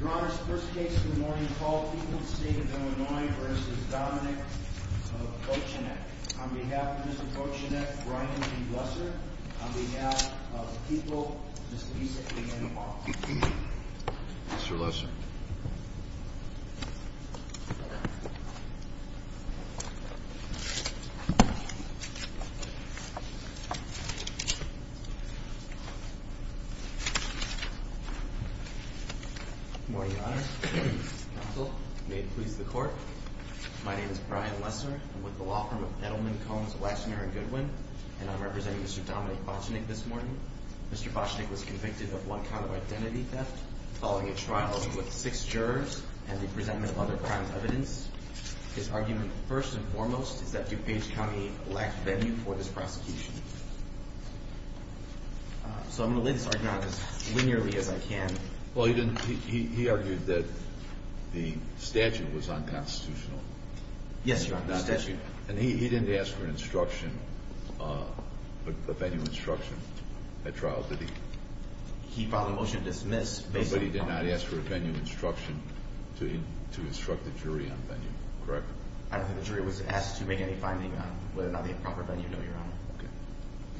Your Honor, the first case of the morning is called People v. Dominick v. Bochenek on behalf of Mr. Bochenek, Brian G. Lesser, on behalf of People, Mr. Issa A. N. Paul. Good morning, Your Honor. Counsel, may it please the Court, my name is Brian Lesser. I'm with the law firm of Edelman, Combs, Waxman, and Goodwin, and I'm representing Mr. Dominick Bochenek this morning. Mr. Bochenek was convicted of one count of identity theft following a trial with six jurors and the presentment of other crimes evidence. His argument, first and foremost, is that DuPage County lacked venue for this prosecution. So I'm going to lay this argument out as linearly as I can. Well, he argued that the statute was unconstitutional. Yes, Your Honor, the statute. And he didn't ask for an instruction, a venue instruction at trial, did he? He filed a motion to dismiss. But he did not ask for a venue instruction to instruct the jury on venue, correct? I don't think the jury was asked to make any finding on whether or not they had proper venue, no, Your Honor. Okay.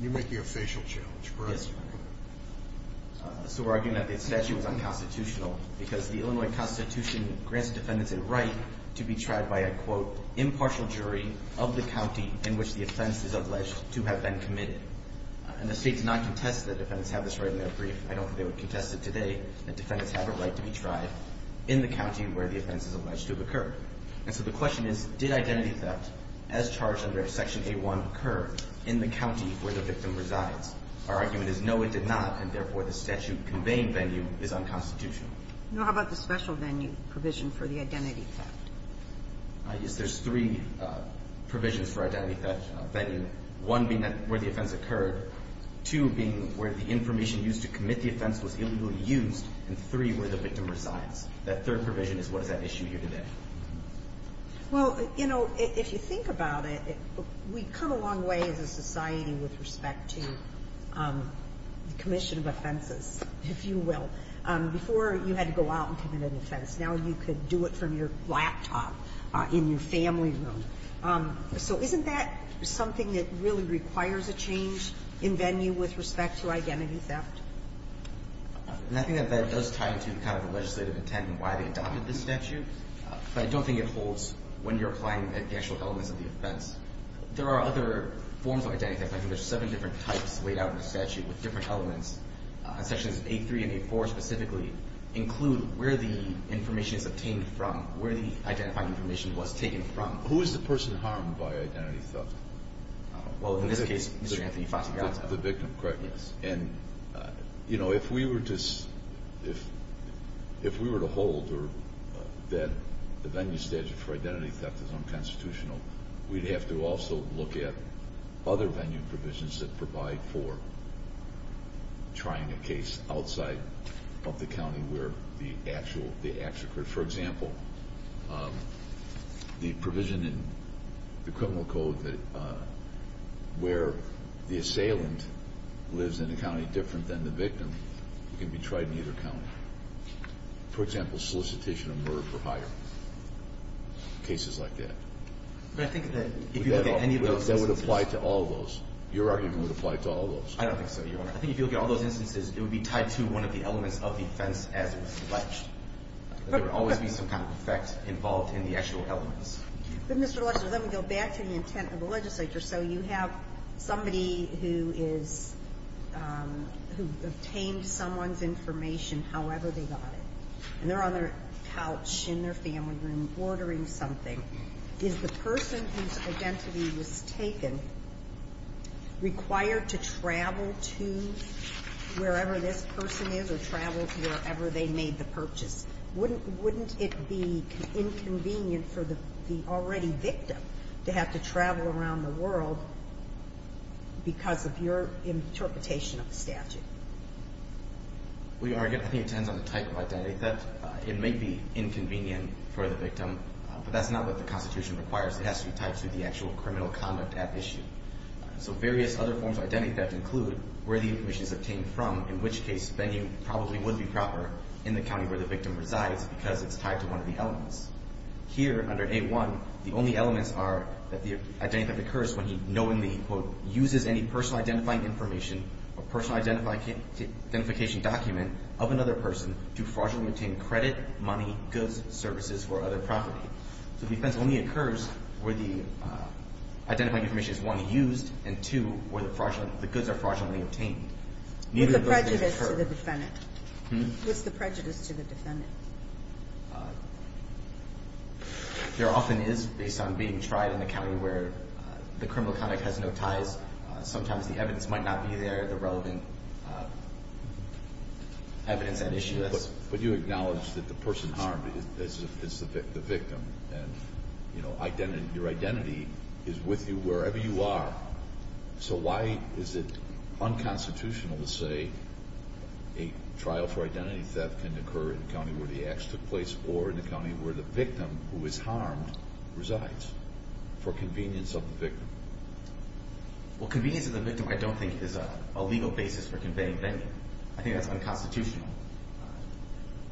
You're making a facial challenge, correct? Yes, Your Honor. So we're arguing that the statute was unconstitutional because the Illinois Constitution grants defendants a right to be tried by a, quote, impartial jury of the county in which the offense is alleged to have been committed. And the state does not contest that defendants have this right in their brief. I don't think they would contest it today that defendants have a right to be tried in the county where the offense is alleged to have occurred. And so the question is, did identity theft as charged under Section A1 occur in the county where the victim resides? Our argument is no, it did not, and therefore the statute conveying venue is unconstitutional. Now, how about the special venue provision for the identity theft? Yes, there's three provisions for identity theft venue, one being where the offense occurred, two being where the information used to commit the offense was illegally used, and three where the victim resides. That third provision is what is at issue here today. Well, you know, if you think about it, we've come a long way as a society with respect to the commission of offenses, if you will. Before, you had to go out and commit an offense. Now you could do it from your laptop in your family room. So isn't that something that really requires a change in venue with respect to identity theft? And I think that that does tie into kind of the legislative intent and why they adopted this statute. But I don't think it holds when you're applying the actual elements of the offense. There are other forms of identity theft. I think there's seven different types laid out in the statute with different elements. Sections A3 and A4 specifically include where the information is obtained from, where the identified information was taken from. Who is the person harmed by identity theft? Well, in this case, Mr. Anthony Fatigata. The victim, correct? Yes. And, you know, if we were to hold that the venue statute for identity theft is unconstitutional, we'd have to also look at other venue provisions that provide for trying a case outside of the county where the acts occurred. For example, the provision in the criminal code where the assailant lives in a county different than the victim can be tried in either county. For example, solicitation of murder for hire. Cases like that. But I think that if you look at any of those instances. That would apply to all those. Your argument would apply to all those. I don't think so, Your Honor. I think if you look at all those instances, it would be tied to one of the elements of the offense as it was alleged. There would always be some kind of effect involved in the actual elements. But, Mr. Legislature, let me go back to the intent of the legislature. So you have somebody who is, who obtained someone's information however they got it. And they're on their couch in their family room ordering something. Is the person whose identity was taken required to travel to wherever this person is or travel to wherever they made the purchase? Wouldn't it be inconvenient for the already victim to have to travel around the world because of your interpretation of the statute? Well, Your Honor, I think it depends on the type of identity theft. It may be inconvenient for the victim. But that's not what the Constitution requires. It has to be tied to the actual criminal conduct at issue. So various other forms of identity theft include where the information is obtained from. In which case, spending probably would be proper in the county where the victim resides because it's tied to one of the elements. Here, under A1, the only elements are that the identity theft occurs when he knowingly, quote, uses any personal identifying information or personal identification document of another person to fraudulently obtain credit, money, goods, services, or other property. So defense only occurs where the identifying information is, one, used, and, two, where the goods are fraudulently obtained. With the prejudice to the defendant. What's the prejudice to the defendant? There often is, based on being tried in a county where the criminal conduct has no ties. Sometimes the evidence might not be there, the relevant evidence at issue. But you acknowledge that the person harmed is the victim. And your identity is with you wherever you are. So why is it unconstitutional to say a trial for identity theft can occur in a county where the acts took place, or in a county where the victim who is harmed resides, for convenience of the victim? Well, convenience of the victim I don't think is a legal basis for conveying banking. I think that's unconstitutional.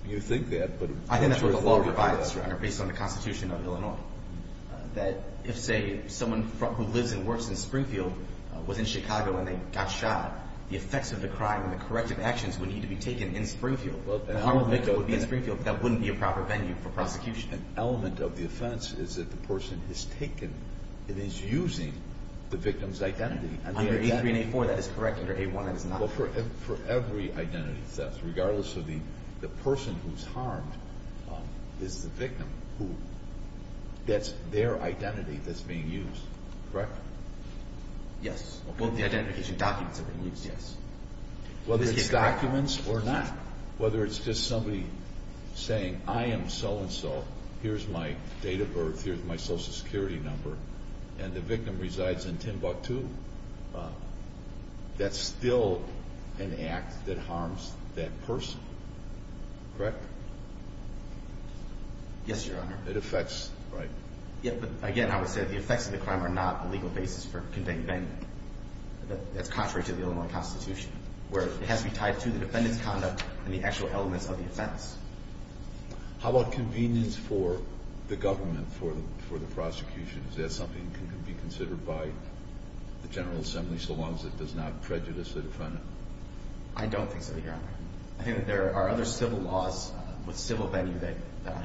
You think that, but... I think that's what the law provides, Your Honor, based on the Constitution of Illinois. That if, say, someone who lives and works in Springfield was in Chicago and they got shot, the effects of the crime and the corrective actions would need to be taken in Springfield. The harm of the victim would be in Springfield, but that wouldn't be a proper venue for prosecution. An element of the offense is that the person has taken and is using the victim's identity. Under A3 and A4 that is correct, under A1 it is not. But for every identity theft, regardless of the person who is harmed, is the victim, that's their identity that's being used, correct? Yes, both the identity and documents are being used, yes. Whether it's documents or not, whether it's just somebody saying, I am so-and-so, here's my date of birth, here's my Social Security number, and the victim resides in Timbuktu, that's still an act that harms that person, correct? Yes, Your Honor. It affects, right? Yes, but again, I would say that the effects of the crime are not a legal basis for conveying banning. That's contrary to the Illinois Constitution, where it has to be tied to the defendant's conduct and the actual elements of the offense. How about convenience for the government for the prosecution? Is that something that can be considered by the General Assembly, so long as it does not prejudice the defendant? I don't think so, Your Honor. I think that there are other civil laws with civil venue that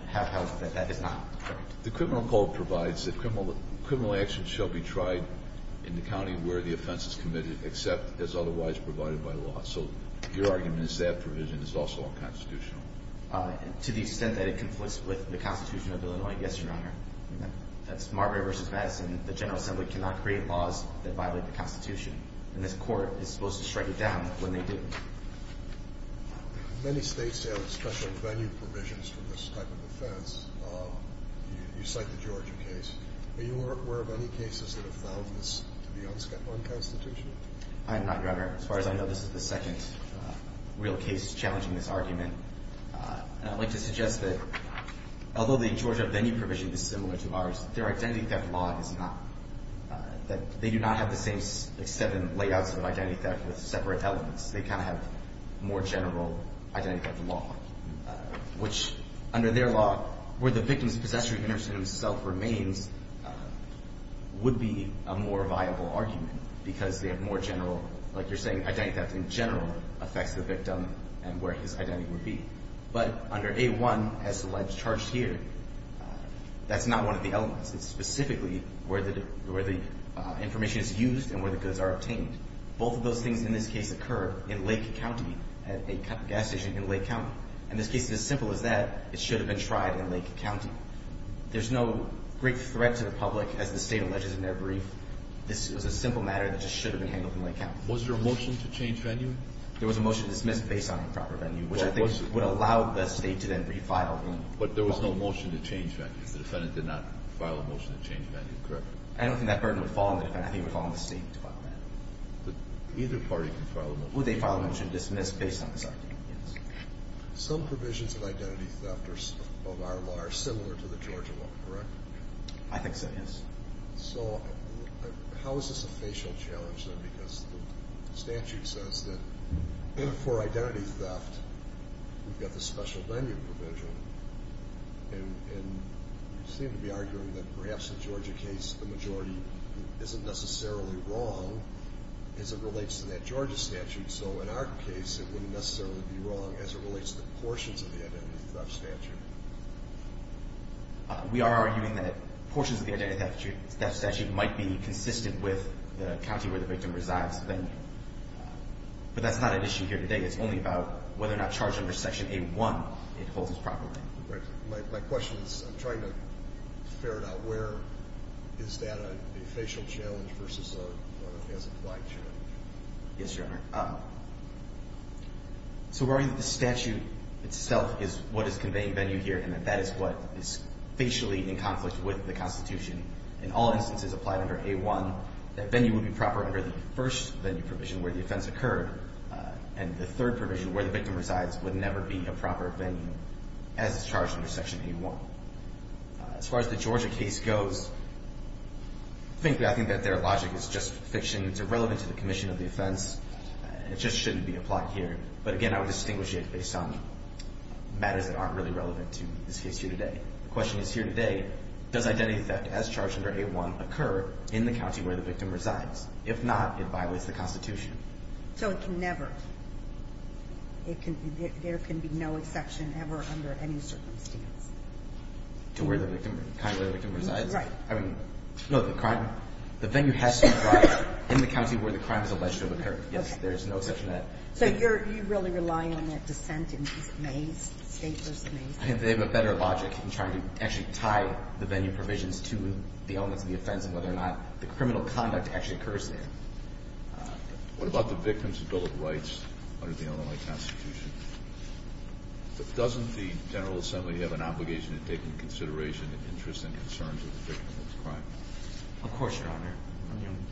have held that that is not correct. The criminal code provides that criminal action shall be tried in the county where the offense is committed, except as otherwise provided by law. So your argument is that provision is also unconstitutional? To the extent that it conflicts with the Constitution of Illinois, yes, Your Honor. That's Marbury v. Madison. The General Assembly cannot create laws that violate the Constitution, and this Court is supposed to strike it down when they do. Many states have special venue provisions for this type of offense. You cite the Georgia case. Are you aware of any cases that have found this to be unconstitutional? I am not, Your Honor. As far as I know, this is the second real case challenging this argument. And I'd like to suggest that although the Georgia venue provision is similar to ours, their identity theft law is not. They do not have the same seven layouts of identity theft with separate elements. They kind of have more general identity theft law, which under their law where the victim's possessor himself remains would be a more viable argument because they have more general, like you're saying, identity theft in general affects the victim and where his identity would be. But under A1, as alleged here, that's not one of the elements. It's specifically where the information is used and where the goods are obtained. Both of those things in this case occur in Lake County, at a gas station in Lake County. In this case, it's as simple as that. It should have been tried in Lake County. There's no great threat to the public, as the State alleges in their brief. This was a simple matter that just should have been handled in Lake County. Was there a motion to change venue? There was a motion to dismiss based on improper venue, which I think would allow the State to then refile. But there was no motion to change venue. The defendant did not file a motion to change venue, correct? I don't think that burden would fall on the defendant. I think it would fall on the State to file a motion. But either party can file a motion. Would they file a motion to dismiss based on this argument? Yes. Some provisions of identity theft of our law are similar to the Georgia law, correct? I think so, yes. So how is this a facial challenge then? Because the statute says that for identity theft, we've got the special venue provision. And you seem to be arguing that perhaps in the Georgia case, the majority isn't necessarily wrong as it relates to that Georgia statute. So in our case, it wouldn't necessarily be wrong as it relates to portions of the identity theft statute. We are arguing that portions of the identity theft statute might be consistent with the county where the victim resides. But that's not an issue here today. It's only about whether or not charge under Section A-1, it holds us properly. My question is, I'm trying to ferret out where is that a facial challenge versus a blind challenge. Yes, Your Honor. So we're arguing that the statute itself is what is conveying venue here and that that is what is facially in conflict with the Constitution. In all instances applied under A-1, that venue would be proper under the first venue provision where the offense occurred. And the third provision where the victim resides would never be a proper venue as is charged under Section A-1. As far as the Georgia case goes, I think that their logic is just fiction. It's irrelevant to the commission of the offense. It just shouldn't be applied here. But again, I would distinguish it based on matters that aren't really relevant to this case here today. The question is here today, does identity theft as charged under A-1 occur in the county where the victim resides? If not, it violates the Constitution. So it can never. There can be no exception ever under any circumstance. To where the victim resides? Right. I mean, no, the crime, the venue has to reside in the county where the crime is alleged to have occurred. Yes, there is no exception to that. So you're really relying on that dissent in these mazes, stateless mazes? I think they have a better logic in trying to actually tie the venue provisions to the elements of the offense and whether or not the criminal conduct actually occurs there. What about the Victims' Bill of Rights under the Illinois Constitution? Doesn't the General Assembly have an obligation to take into consideration the interests and concerns of the victim of this crime? Of course, Your Honor.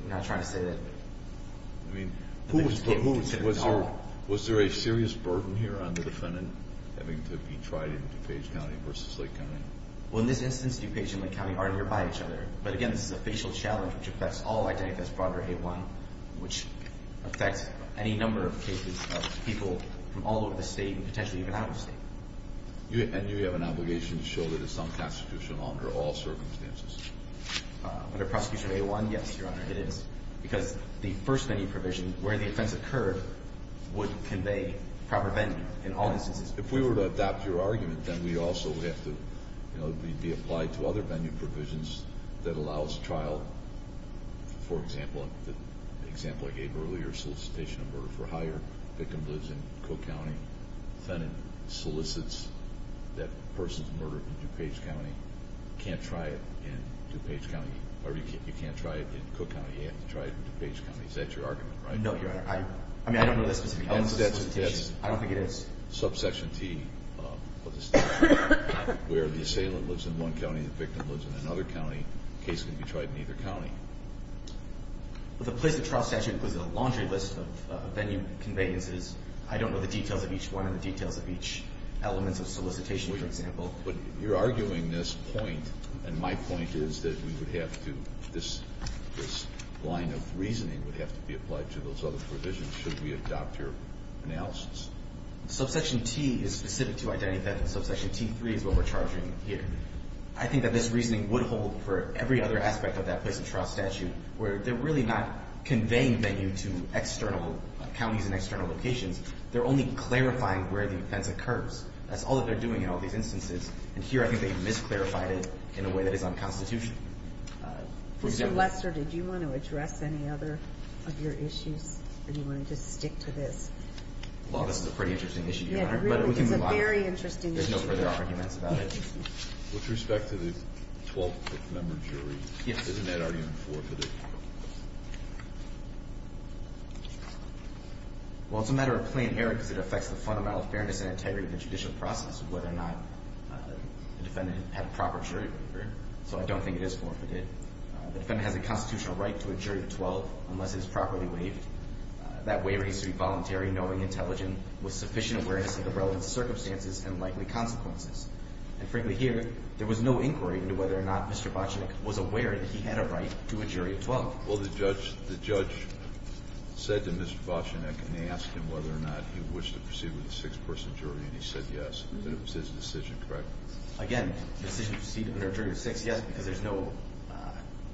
I'm not trying to say that the victim is considered at all. Was there a serious burden here on the defendant having to be tried in DuPage County versus Lake County? Well, in this instance, DuPage and Lake County are nearby each other. But again, this is a facial challenge which affects all identities brought under A-1, which affects any number of cases of people from all over the state and potentially even out of the state. And do you have an obligation to show that it's unconstitutional under all circumstances? Under prosecution of A-1, yes, Your Honor, it is. Because the first venue provision where the offense occurred would convey proper venue in all instances. If we were to adopt your argument, then we also would have to be applied to other venue provisions that allows trial, for example, the example I gave earlier, solicitation of murder for hire. The victim lives in Cook County. The defendant solicits that person's murder in DuPage County. You can't try it in DuPage County or you can't try it in Cook County. You have to try it in DuPage County. Is that your argument? No, Your Honor. I mean, I don't know the specifics of the solicitation. I don't think it is. Subsection T, where the assailant lives in one county and the victim lives in another county, the case can be tried in either county. But the place of trial statute was a laundry list of venue conveyances. I don't know the details of each one and the details of each element of solicitation, for example. But you're arguing this point, and my point is that we would have to, this line of reasoning would have to be applied to those other provisions should we adopt your analysis. Subsection T is specific to identity theft, and subsection T3 is what we're charging here. I think that this reasoning would hold for every other aspect of that place of trial statute where they're really not conveying venue to external counties and external locations. They're only clarifying where the offense occurs. That's all that they're doing in all these instances, and here I think they've misclarified it in a way that is unconstitutional. Mr. Lester, did you want to address any other of your issues, or do you want to just stick to this? Well, this is a pretty interesting issue, Your Honor, but we can move on. Yeah, it really is a very interesting issue. There's no further arguments about it. With respect to the 12th member jury, isn't that argument forfeited? Well, it's a matter of plain error because it affects the fundamental fairness and integrity of the judicial process of whether or not the defendant had a proper jury, so I don't think it is forfeited. The defendant has a constitutional right to a jury of 12 unless it is properly waived. That waiver needs to be voluntary, knowing, intelligent, with sufficient awareness of the relevant circumstances and likely consequences. And frankly, here, there was no inquiry into whether or not Mr. Bochnik was aware that he had a right to a jury of 12. Well, the judge said to Mr. Bochnik, and they asked him whether or not he wished to proceed with a six-person jury, and he said yes, and it was his decision, correct? Again, the decision to proceed with a jury of six, yes, because there's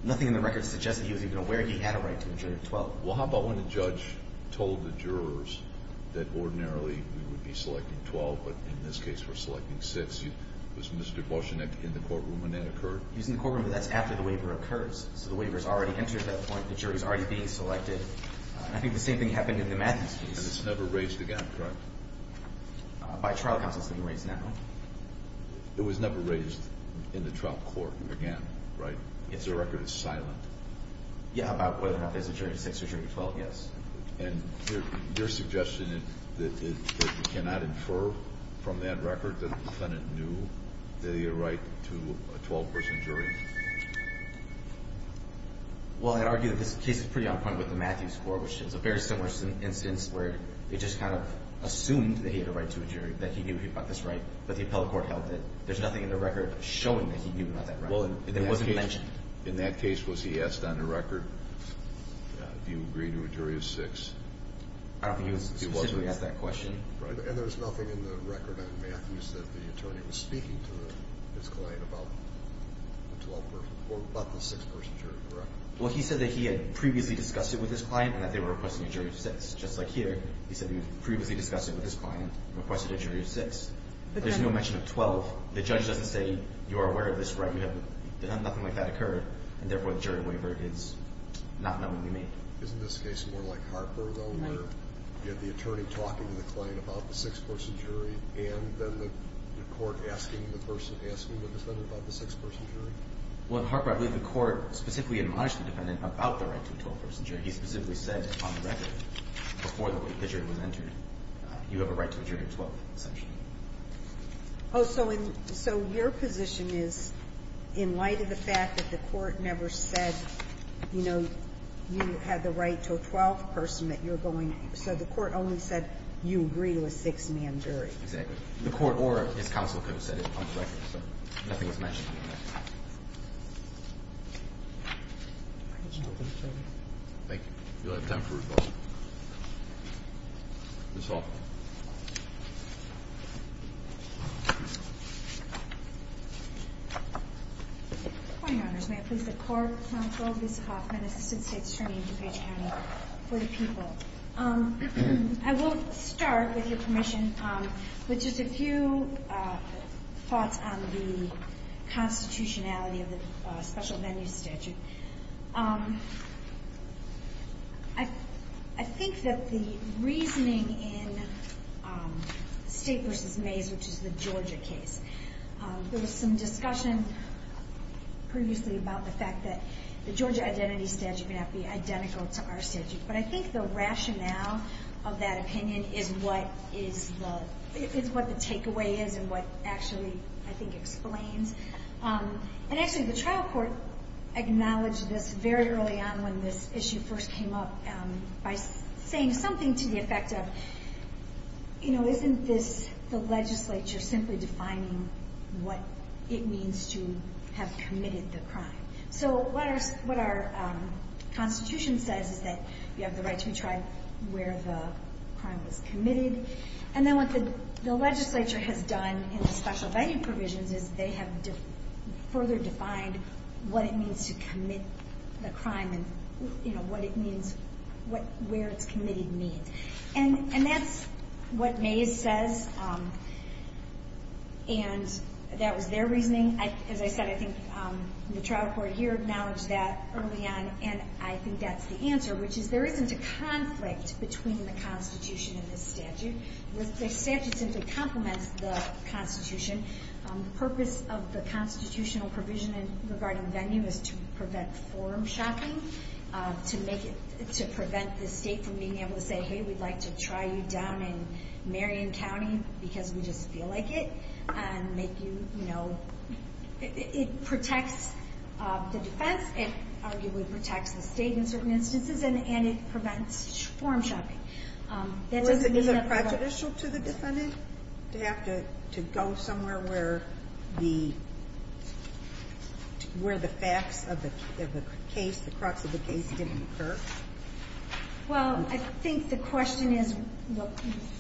nothing in the record that suggests that he was even aware he had a right to a jury of 12. Well, how about when the judge told the jurors that ordinarily we would be selecting 12, but in this case we're selecting six. Was Mr. Bochnik in the courtroom when that occurred? He was in the courtroom, but that's after the waiver occurs. So the waiver's already entered at that point. The jury's already being selected. I think the same thing happened in the Matthews case. And it's never raised again, correct? By trial counsel, it's being raised now. It was never raised in the trial court again, right? Yes, sir. The record is silent. Yeah, about whether or not there's a jury of six or jury of 12, yes. And your suggestion is that you cannot infer from that record that the defendant knew that he had a right to a 12-person jury? Well, I'd argue that this case is pretty on point with the Matthews Court, which is a very similar instance where they just kind of assumed that he had a right to a jury, that he knew he got this right, but the appellate court held that there's nothing in the record showing that he knew about that right, that it wasn't mentioned. In that case, was he asked on the record, do you agree to a jury of six? I don't think he was specifically asked that question. And there's nothing in the record on Matthews that the attorney was speaking to his client about the 12-person or about the six-person jury, correct? Well, he said that he had previously discussed it with his client and that they were requesting a jury of six, just like here. He said he had previously discussed it with his client and requested a jury of six. There's no mention of 12. The judge doesn't say, you are aware of this right. Nothing like that occurred, and therefore, the jury waiver is not knowingly made. Isn't this case more like Harper, though, where you have the attorney talking to the client about the six-person jury and then the court asking the person, asking the defendant about the six-person jury? Well, in Harper, I believe the court specifically admonished the defendant about the right to a 12-person jury. He specifically said on the record, before the jury was entered, you have a right to a jury of 12, essentially. Oh, so your position is, in light of the fact that the court never said, you know, you have the right to a 12-person that you're going to, so the court only said you agree to a six-man jury. Exactly. The court or his counsel could have said it on the record, so nothing is mentioned. Thank you. You'll have time for rebuttal. Ms. Hall. Good morning, Your Honors. May it please the Court, I'm Provost Hoffman, Assistant State Attorney in DuPage County for the People. I will start, with your permission, with just a few thoughts on the constitutionality of the special venue statute. I think that the reasoning in State v. Mays, which is the Georgia case, there was some discussion previously about the fact that the Georgia identity statute may not be identical to our statute. But I think the rationale of that opinion is what the takeaway is and what actually, I think, explains. And actually, the trial court acknowledged this very early on when this issue first came up by saying something to the effect of, you know, isn't this the legislature simply defining what it means to have committed the crime? So what our constitution says is that you have the right to be tried where the crime was committed. And then what the legislature has done in the special venue provisions is they have further defined what it means to commit the crime and, you know, what it means, where it's committed means. And that's what Mays says, and that was their reasoning. As I said, I think the trial court here acknowledged that early on, and I think that's the answer, which is there isn't a conflict between the constitution and the statute. The statute simply complements the constitution. The purpose of the constitutional provision regarding venue is to prevent forum shopping, to prevent the state from being able to say, hey, we'd like to try you down in Marion County because we just feel like it, and make you, you know, it protects the defense, it arguably protects the state in certain instances, and it prevents forum shopping. Is it prejudicial to the defendant to have to go somewhere where the facts of the case, the crux of the case didn't occur? Well, I think the question is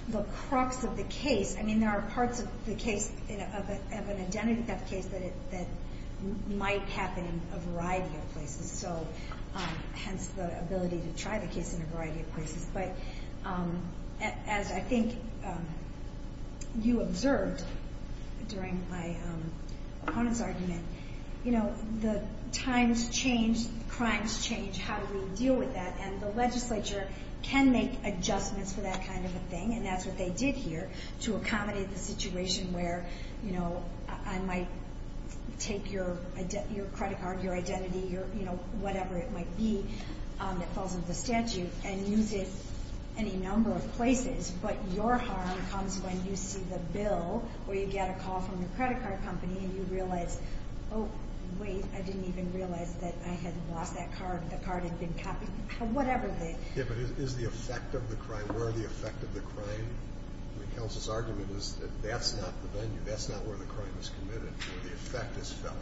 the crux of the case. I mean, there are parts of the case, of an identity theft case, that might happen in a variety of places, so hence the ability to try the case in a variety of places. But as I think you observed during my opponent's argument, you know, the times change, crimes change, how do we deal with that? And the legislature can make adjustments for that kind of a thing, and that's what they did here to accommodate the situation where, you know, I might take your credit card, your identity, your, you know, whatever it might be that falls under the statute, and use it any number of places, but your harm comes when you see the bill, or you get a call from your credit card company, and you realize, oh, wait, I didn't even realize that I had lost that card, the card had been copied, or whatever they did. Yeah, but is the effect of the crime, where the effect of the crime? I mean, Kels' argument is that that's not the venue, that's not where the crime was committed, where the effect is felt.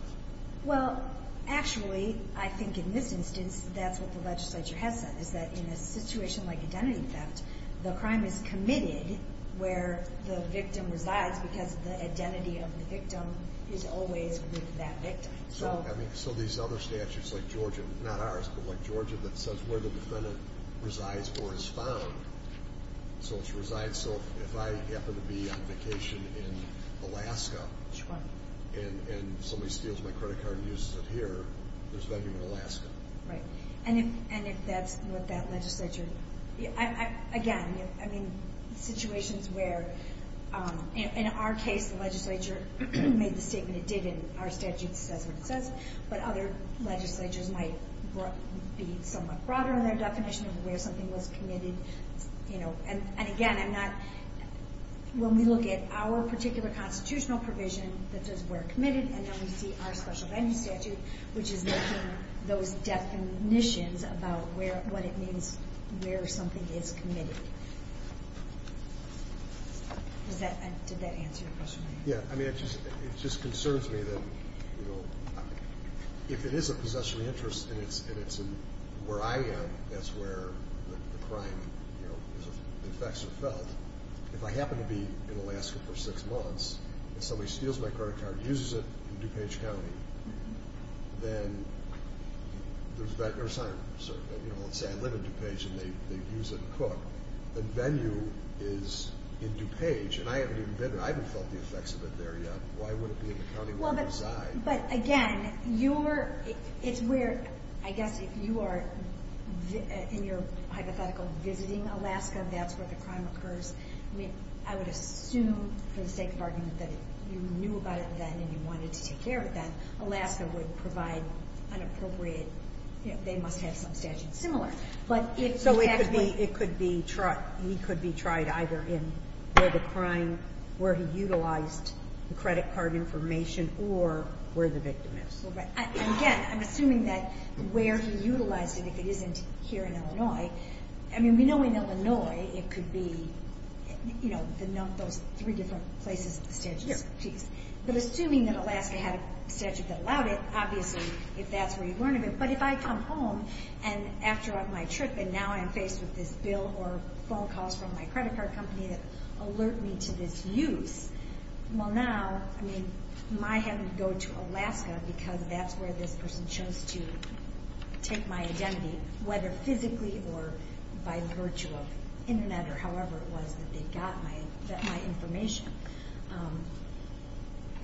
Well, actually, I think in this instance, that's what the legislature has said, is that in a situation like identity theft, the crime is committed where the victim resides, because the identity of the victim is always with that victim. So these other statutes, like Georgia, not ours, but like Georgia, that says where the defendant resides or is found, so if she resides, so if I happen to be on vacation in Alaska, and somebody steals my credit card and uses it here, there's a venue in Alaska. Right, and if that's what that legislature, again, I mean, situations where, in our case, the legislature made the statement it did, and our statute says what it says, but other legislatures might be somewhat broader in their definition of where something was committed. And again, when we look at our particular constitutional provision that says we're committed, and then we see our special venue statute, which is making those definitions about what it means where something is committed. Did that answer your question? Yeah, I mean, it just concerns me that if it is a possession of interest and it's where I am, that's where the crime, you know, the effects are felt. If I happen to be in Alaska for six months and somebody steals my credit card and uses it in DuPage County, then there's that, or let's say I live in DuPage and they use it to cook. The venue is in DuPage, and I haven't even been there. I haven't felt the effects of it there yet. Why would it be in the county where I reside? But again, it's where, I guess, if you are in your hypothetical visiting Alaska, that's where the crime occurs. I mean, I would assume for the sake of argument that if you knew about it then and you wanted to take care of it then, Alaska would provide an appropriate, you know, they must have some statute similar. So it could be tried either in where the crime, where he utilized the credit card information, or where the victim is. Again, I'm assuming that where he utilized it, if it isn't here in Illinois. I mean, we know in Illinois it could be, you know, those three different places that the statute is. But assuming that Alaska had a statute that allowed it, obviously, if that's where you learn of it. But if I come home and after my trip and now I'm faced with this bill or phone calls from my credit card company that alert me to this use, well now, I mean, I might have to go to Alaska because that's where this person chose to take my identity, whether physically or by virtue of internet or however it was that they got my information.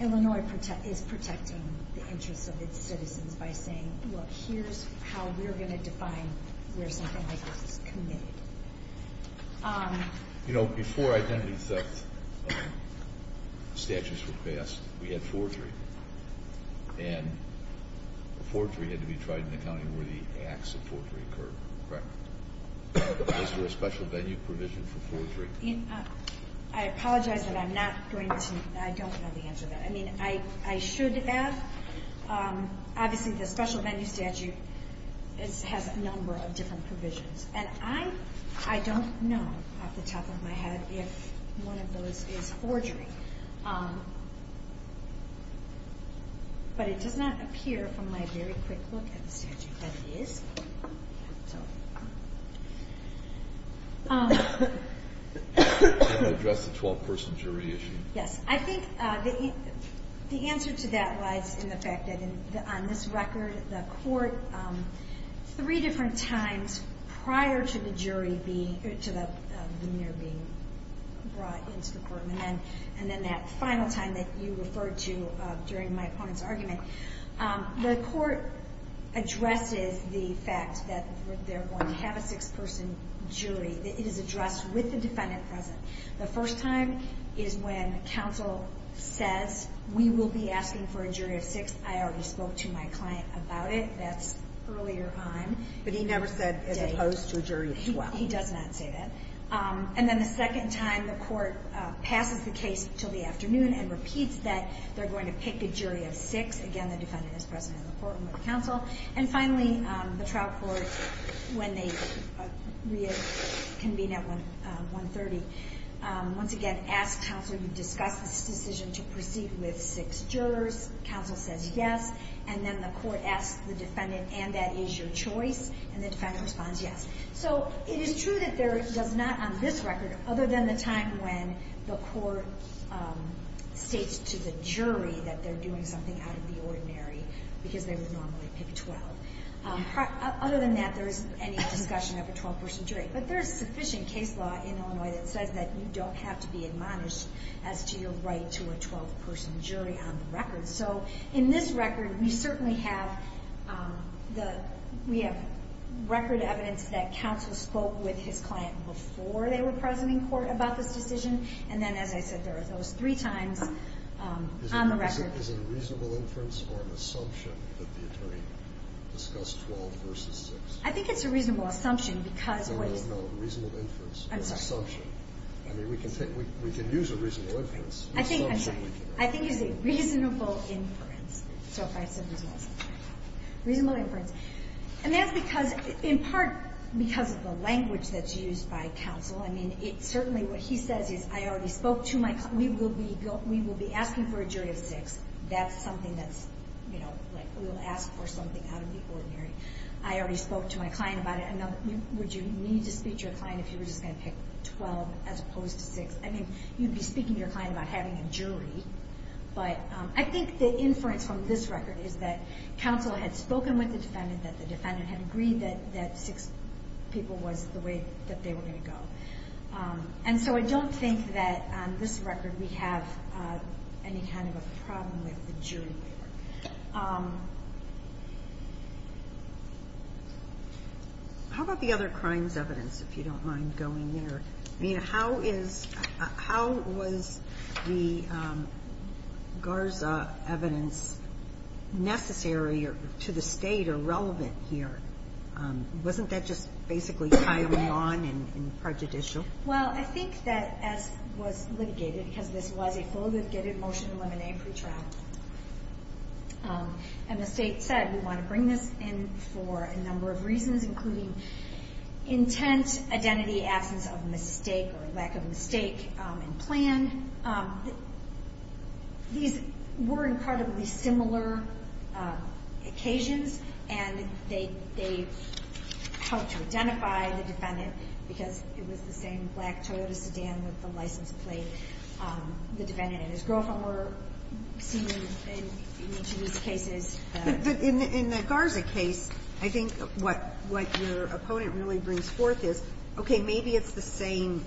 Illinois is protecting the interests of its citizens by saying, look, here's how we're going to define where something like this is committed. You know, before identity theft statutes were passed, we had forgery. And forgery had to be tried in the county where the acts of forgery occurred, correct? Is there a special venue provision for forgery? I apologize that I'm not going to, I don't know the answer to that. I mean, I should add, obviously, the special venue statute has a number of different provisions. And I don't know off the top of my head if one of those is forgery. But it does not appear from my very quick look at the statute that it is. Can you address the 12-person jury issue? Yes. I think the answer to that lies in the fact that on this record, the court three different times prior to the jury being, to when they're being brought into the court, and then that final time that you referred to during my opponent's argument, the court addresses the fact that they're going to have a six-person jury. It is addressed with the defendant present. The first time is when counsel says, we will be asking for a jury of six. I already spoke to my client about it. That's earlier on. But he never said as opposed to a jury of 12. He does not say that. And then the second time, the court passes the case until the afternoon and repeats that they're going to pick a jury of six. Again, the defendant is present in the courtroom with counsel. And finally, the trial court, when they reconvene at 1.30, once again asks counsel, you've discussed this decision to proceed with six jurors. Counsel says yes. And then the court asks the defendant, and that is your choice. And the defendant responds yes. So it is true that there does not on this record, other than the time when the court states to the jury that they're doing something out of the ordinary because they would normally pick 12. Other than that, there isn't any discussion of a 12-person jury. But there is sufficient case law in Illinois that says that you don't have to be admonished as to your right to a 12-person jury on the record. So in this record, we certainly have record evidence that counsel spoke with his client before they were present in court about this decision. And then, as I said, there are those three times on the record. Is it a reasonable inference or an assumption that the attorney discussed 12 versus 6? I think it's a reasonable assumption because what is the... No, no, no. Reasonable inference or assumption. I'm sorry. I mean, we can use a reasonable inference. I think it's a reasonable inference. So if I said it was reasonable inference. And that's because, in part, because of the language that's used by counsel. I mean, certainly what he says is, I already spoke to my client. We will be asking for a jury of 6. That's something that's, you know, like we will ask for something out of the ordinary. I already spoke to my client about it. Would you need to speak to your client if you were just going to pick 12 as opposed to 6? I mean, you'd be speaking to your client about having a jury. But I think the inference from this record is that counsel had spoken with the defendant, that the defendant had agreed that 6 people was the way that they were going to go. And so I don't think that, on this record, we have any kind of a problem with the jury. How about the other crimes evidence, if you don't mind going there? I mean, how was the Garza evidence necessary to the State or relevant here? Wasn't that just basically tiling on and prejudicial? Well, I think that S was litigated because this was a full litigated motion to eliminate pretrial. And the State said, we want to bring this in for a number of reasons, including intent, identity, absence of mistake or lack of mistake in plan. These were incredibly similar occasions. And they helped to identify the defendant because it was the same black Toyota sedan with the license plate, the defendant and his girlfriend were seen in each of these cases. But in the Garza case, I think what your opponent really brings forth is, okay, maybe it's the same,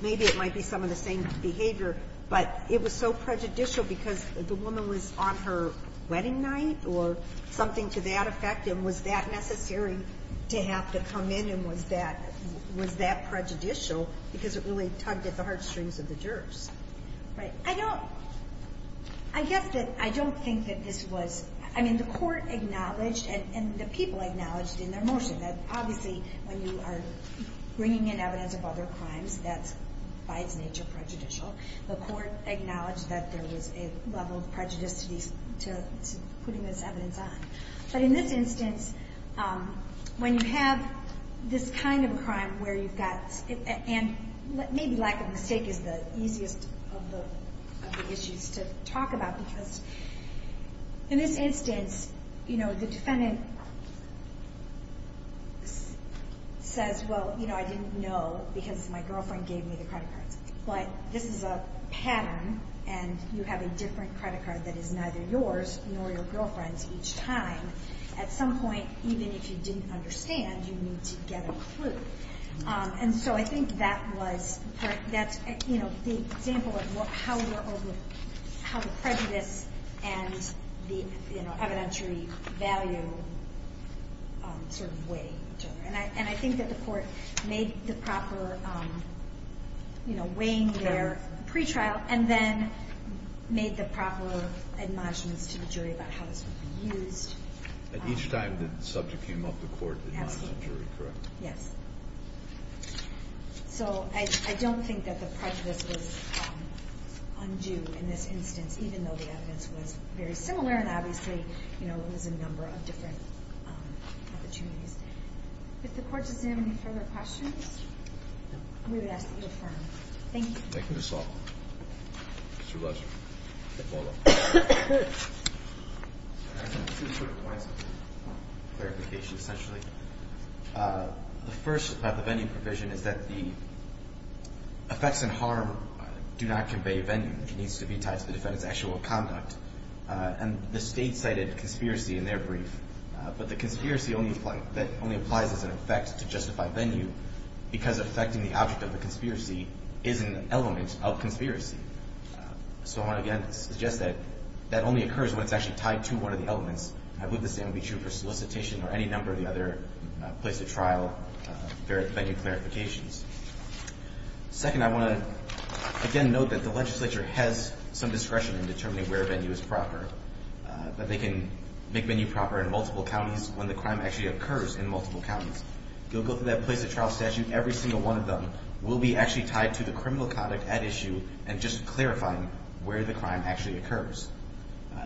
maybe it might be some of the same behavior, but it was so prejudicial because the woman was on her wedding night or something to that effect. And was that necessary to have to come in? And was that prejudicial because it really tugged at the heartstrings of the jurors? Right. I don't, I guess that I don't think that this was, I mean, the court acknowledged and the people acknowledged in their motion that obviously when you are bringing in evidence of other crimes, that's by its nature prejudicial. The court acknowledged that there was a level of prejudice to putting this evidence on. But in this instance, when you have this kind of a crime where you've got, and maybe lack of mistake is the easiest of the issues to talk about, because in this instance, you know, the defendant says, well, you know, I didn't know because my girlfriend gave me the credit cards. But this is a pattern, and you have a different credit card that is neither yours nor your girlfriend's each time. At some point, even if you didn't understand, you need to get a clue. And so I think that was, you know, the example of how the prejudice and the evidentiary value sort of weighed. And I think that the court made the proper, you know, weighing their pretrial and then made the proper admonishments to the jury about how this would be used. Each time the subject came up, the court admonished the jury, correct? Yes. So I don't think that the prejudice was undue in this instance, even though the evidence was very similar. And obviously, you know, there was a number of different opportunities. If the court's examining further questions, we would ask that you affirm. Thank you. It was a pleasure. Thank you. I have two quick points of clarification, essentially. The first about the venue provision is that the effects and harm do not convey venue. It needs to be tied to the defendant's actual conduct. And the State cited conspiracy in their brief. But the conspiracy only applies as an effect to justify venue because affecting the object of the conspiracy is an element of conspiracy. So I want to again suggest that that only occurs when it's actually tied to one of the elements. I believe the same would be true for solicitation or any number of the other place of trial venue clarifications. Second, I want to again note that the legislature has some discretion in determining where venue is proper. But they can make venue proper in multiple counties when the crime actually occurs in multiple counties. You'll go through that place of trial statute. Every single one of them will be actually tied to the criminal conduct at issue and just clarifying where the crime actually occurs.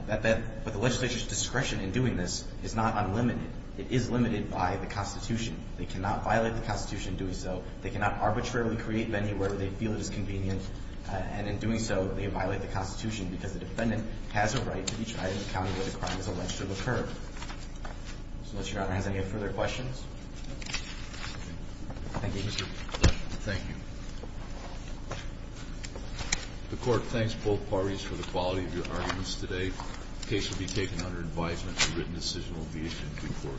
But the legislature's discretion in doing this is not unlimited. It is limited by the Constitution. They cannot violate the Constitution doing so. They cannot arbitrarily create venue where they feel it is convenient. And in doing so, they violate the Constitution because the defendant has a right to be tried in the county where the crime is alleged to have occurred. So I'll let Your Honor ask any further questions. Thank you. Thank you. Thank you. The Court thanks both parties for the quality of your arguments today. The case will be taken under advisement and written decision will be issued in due course.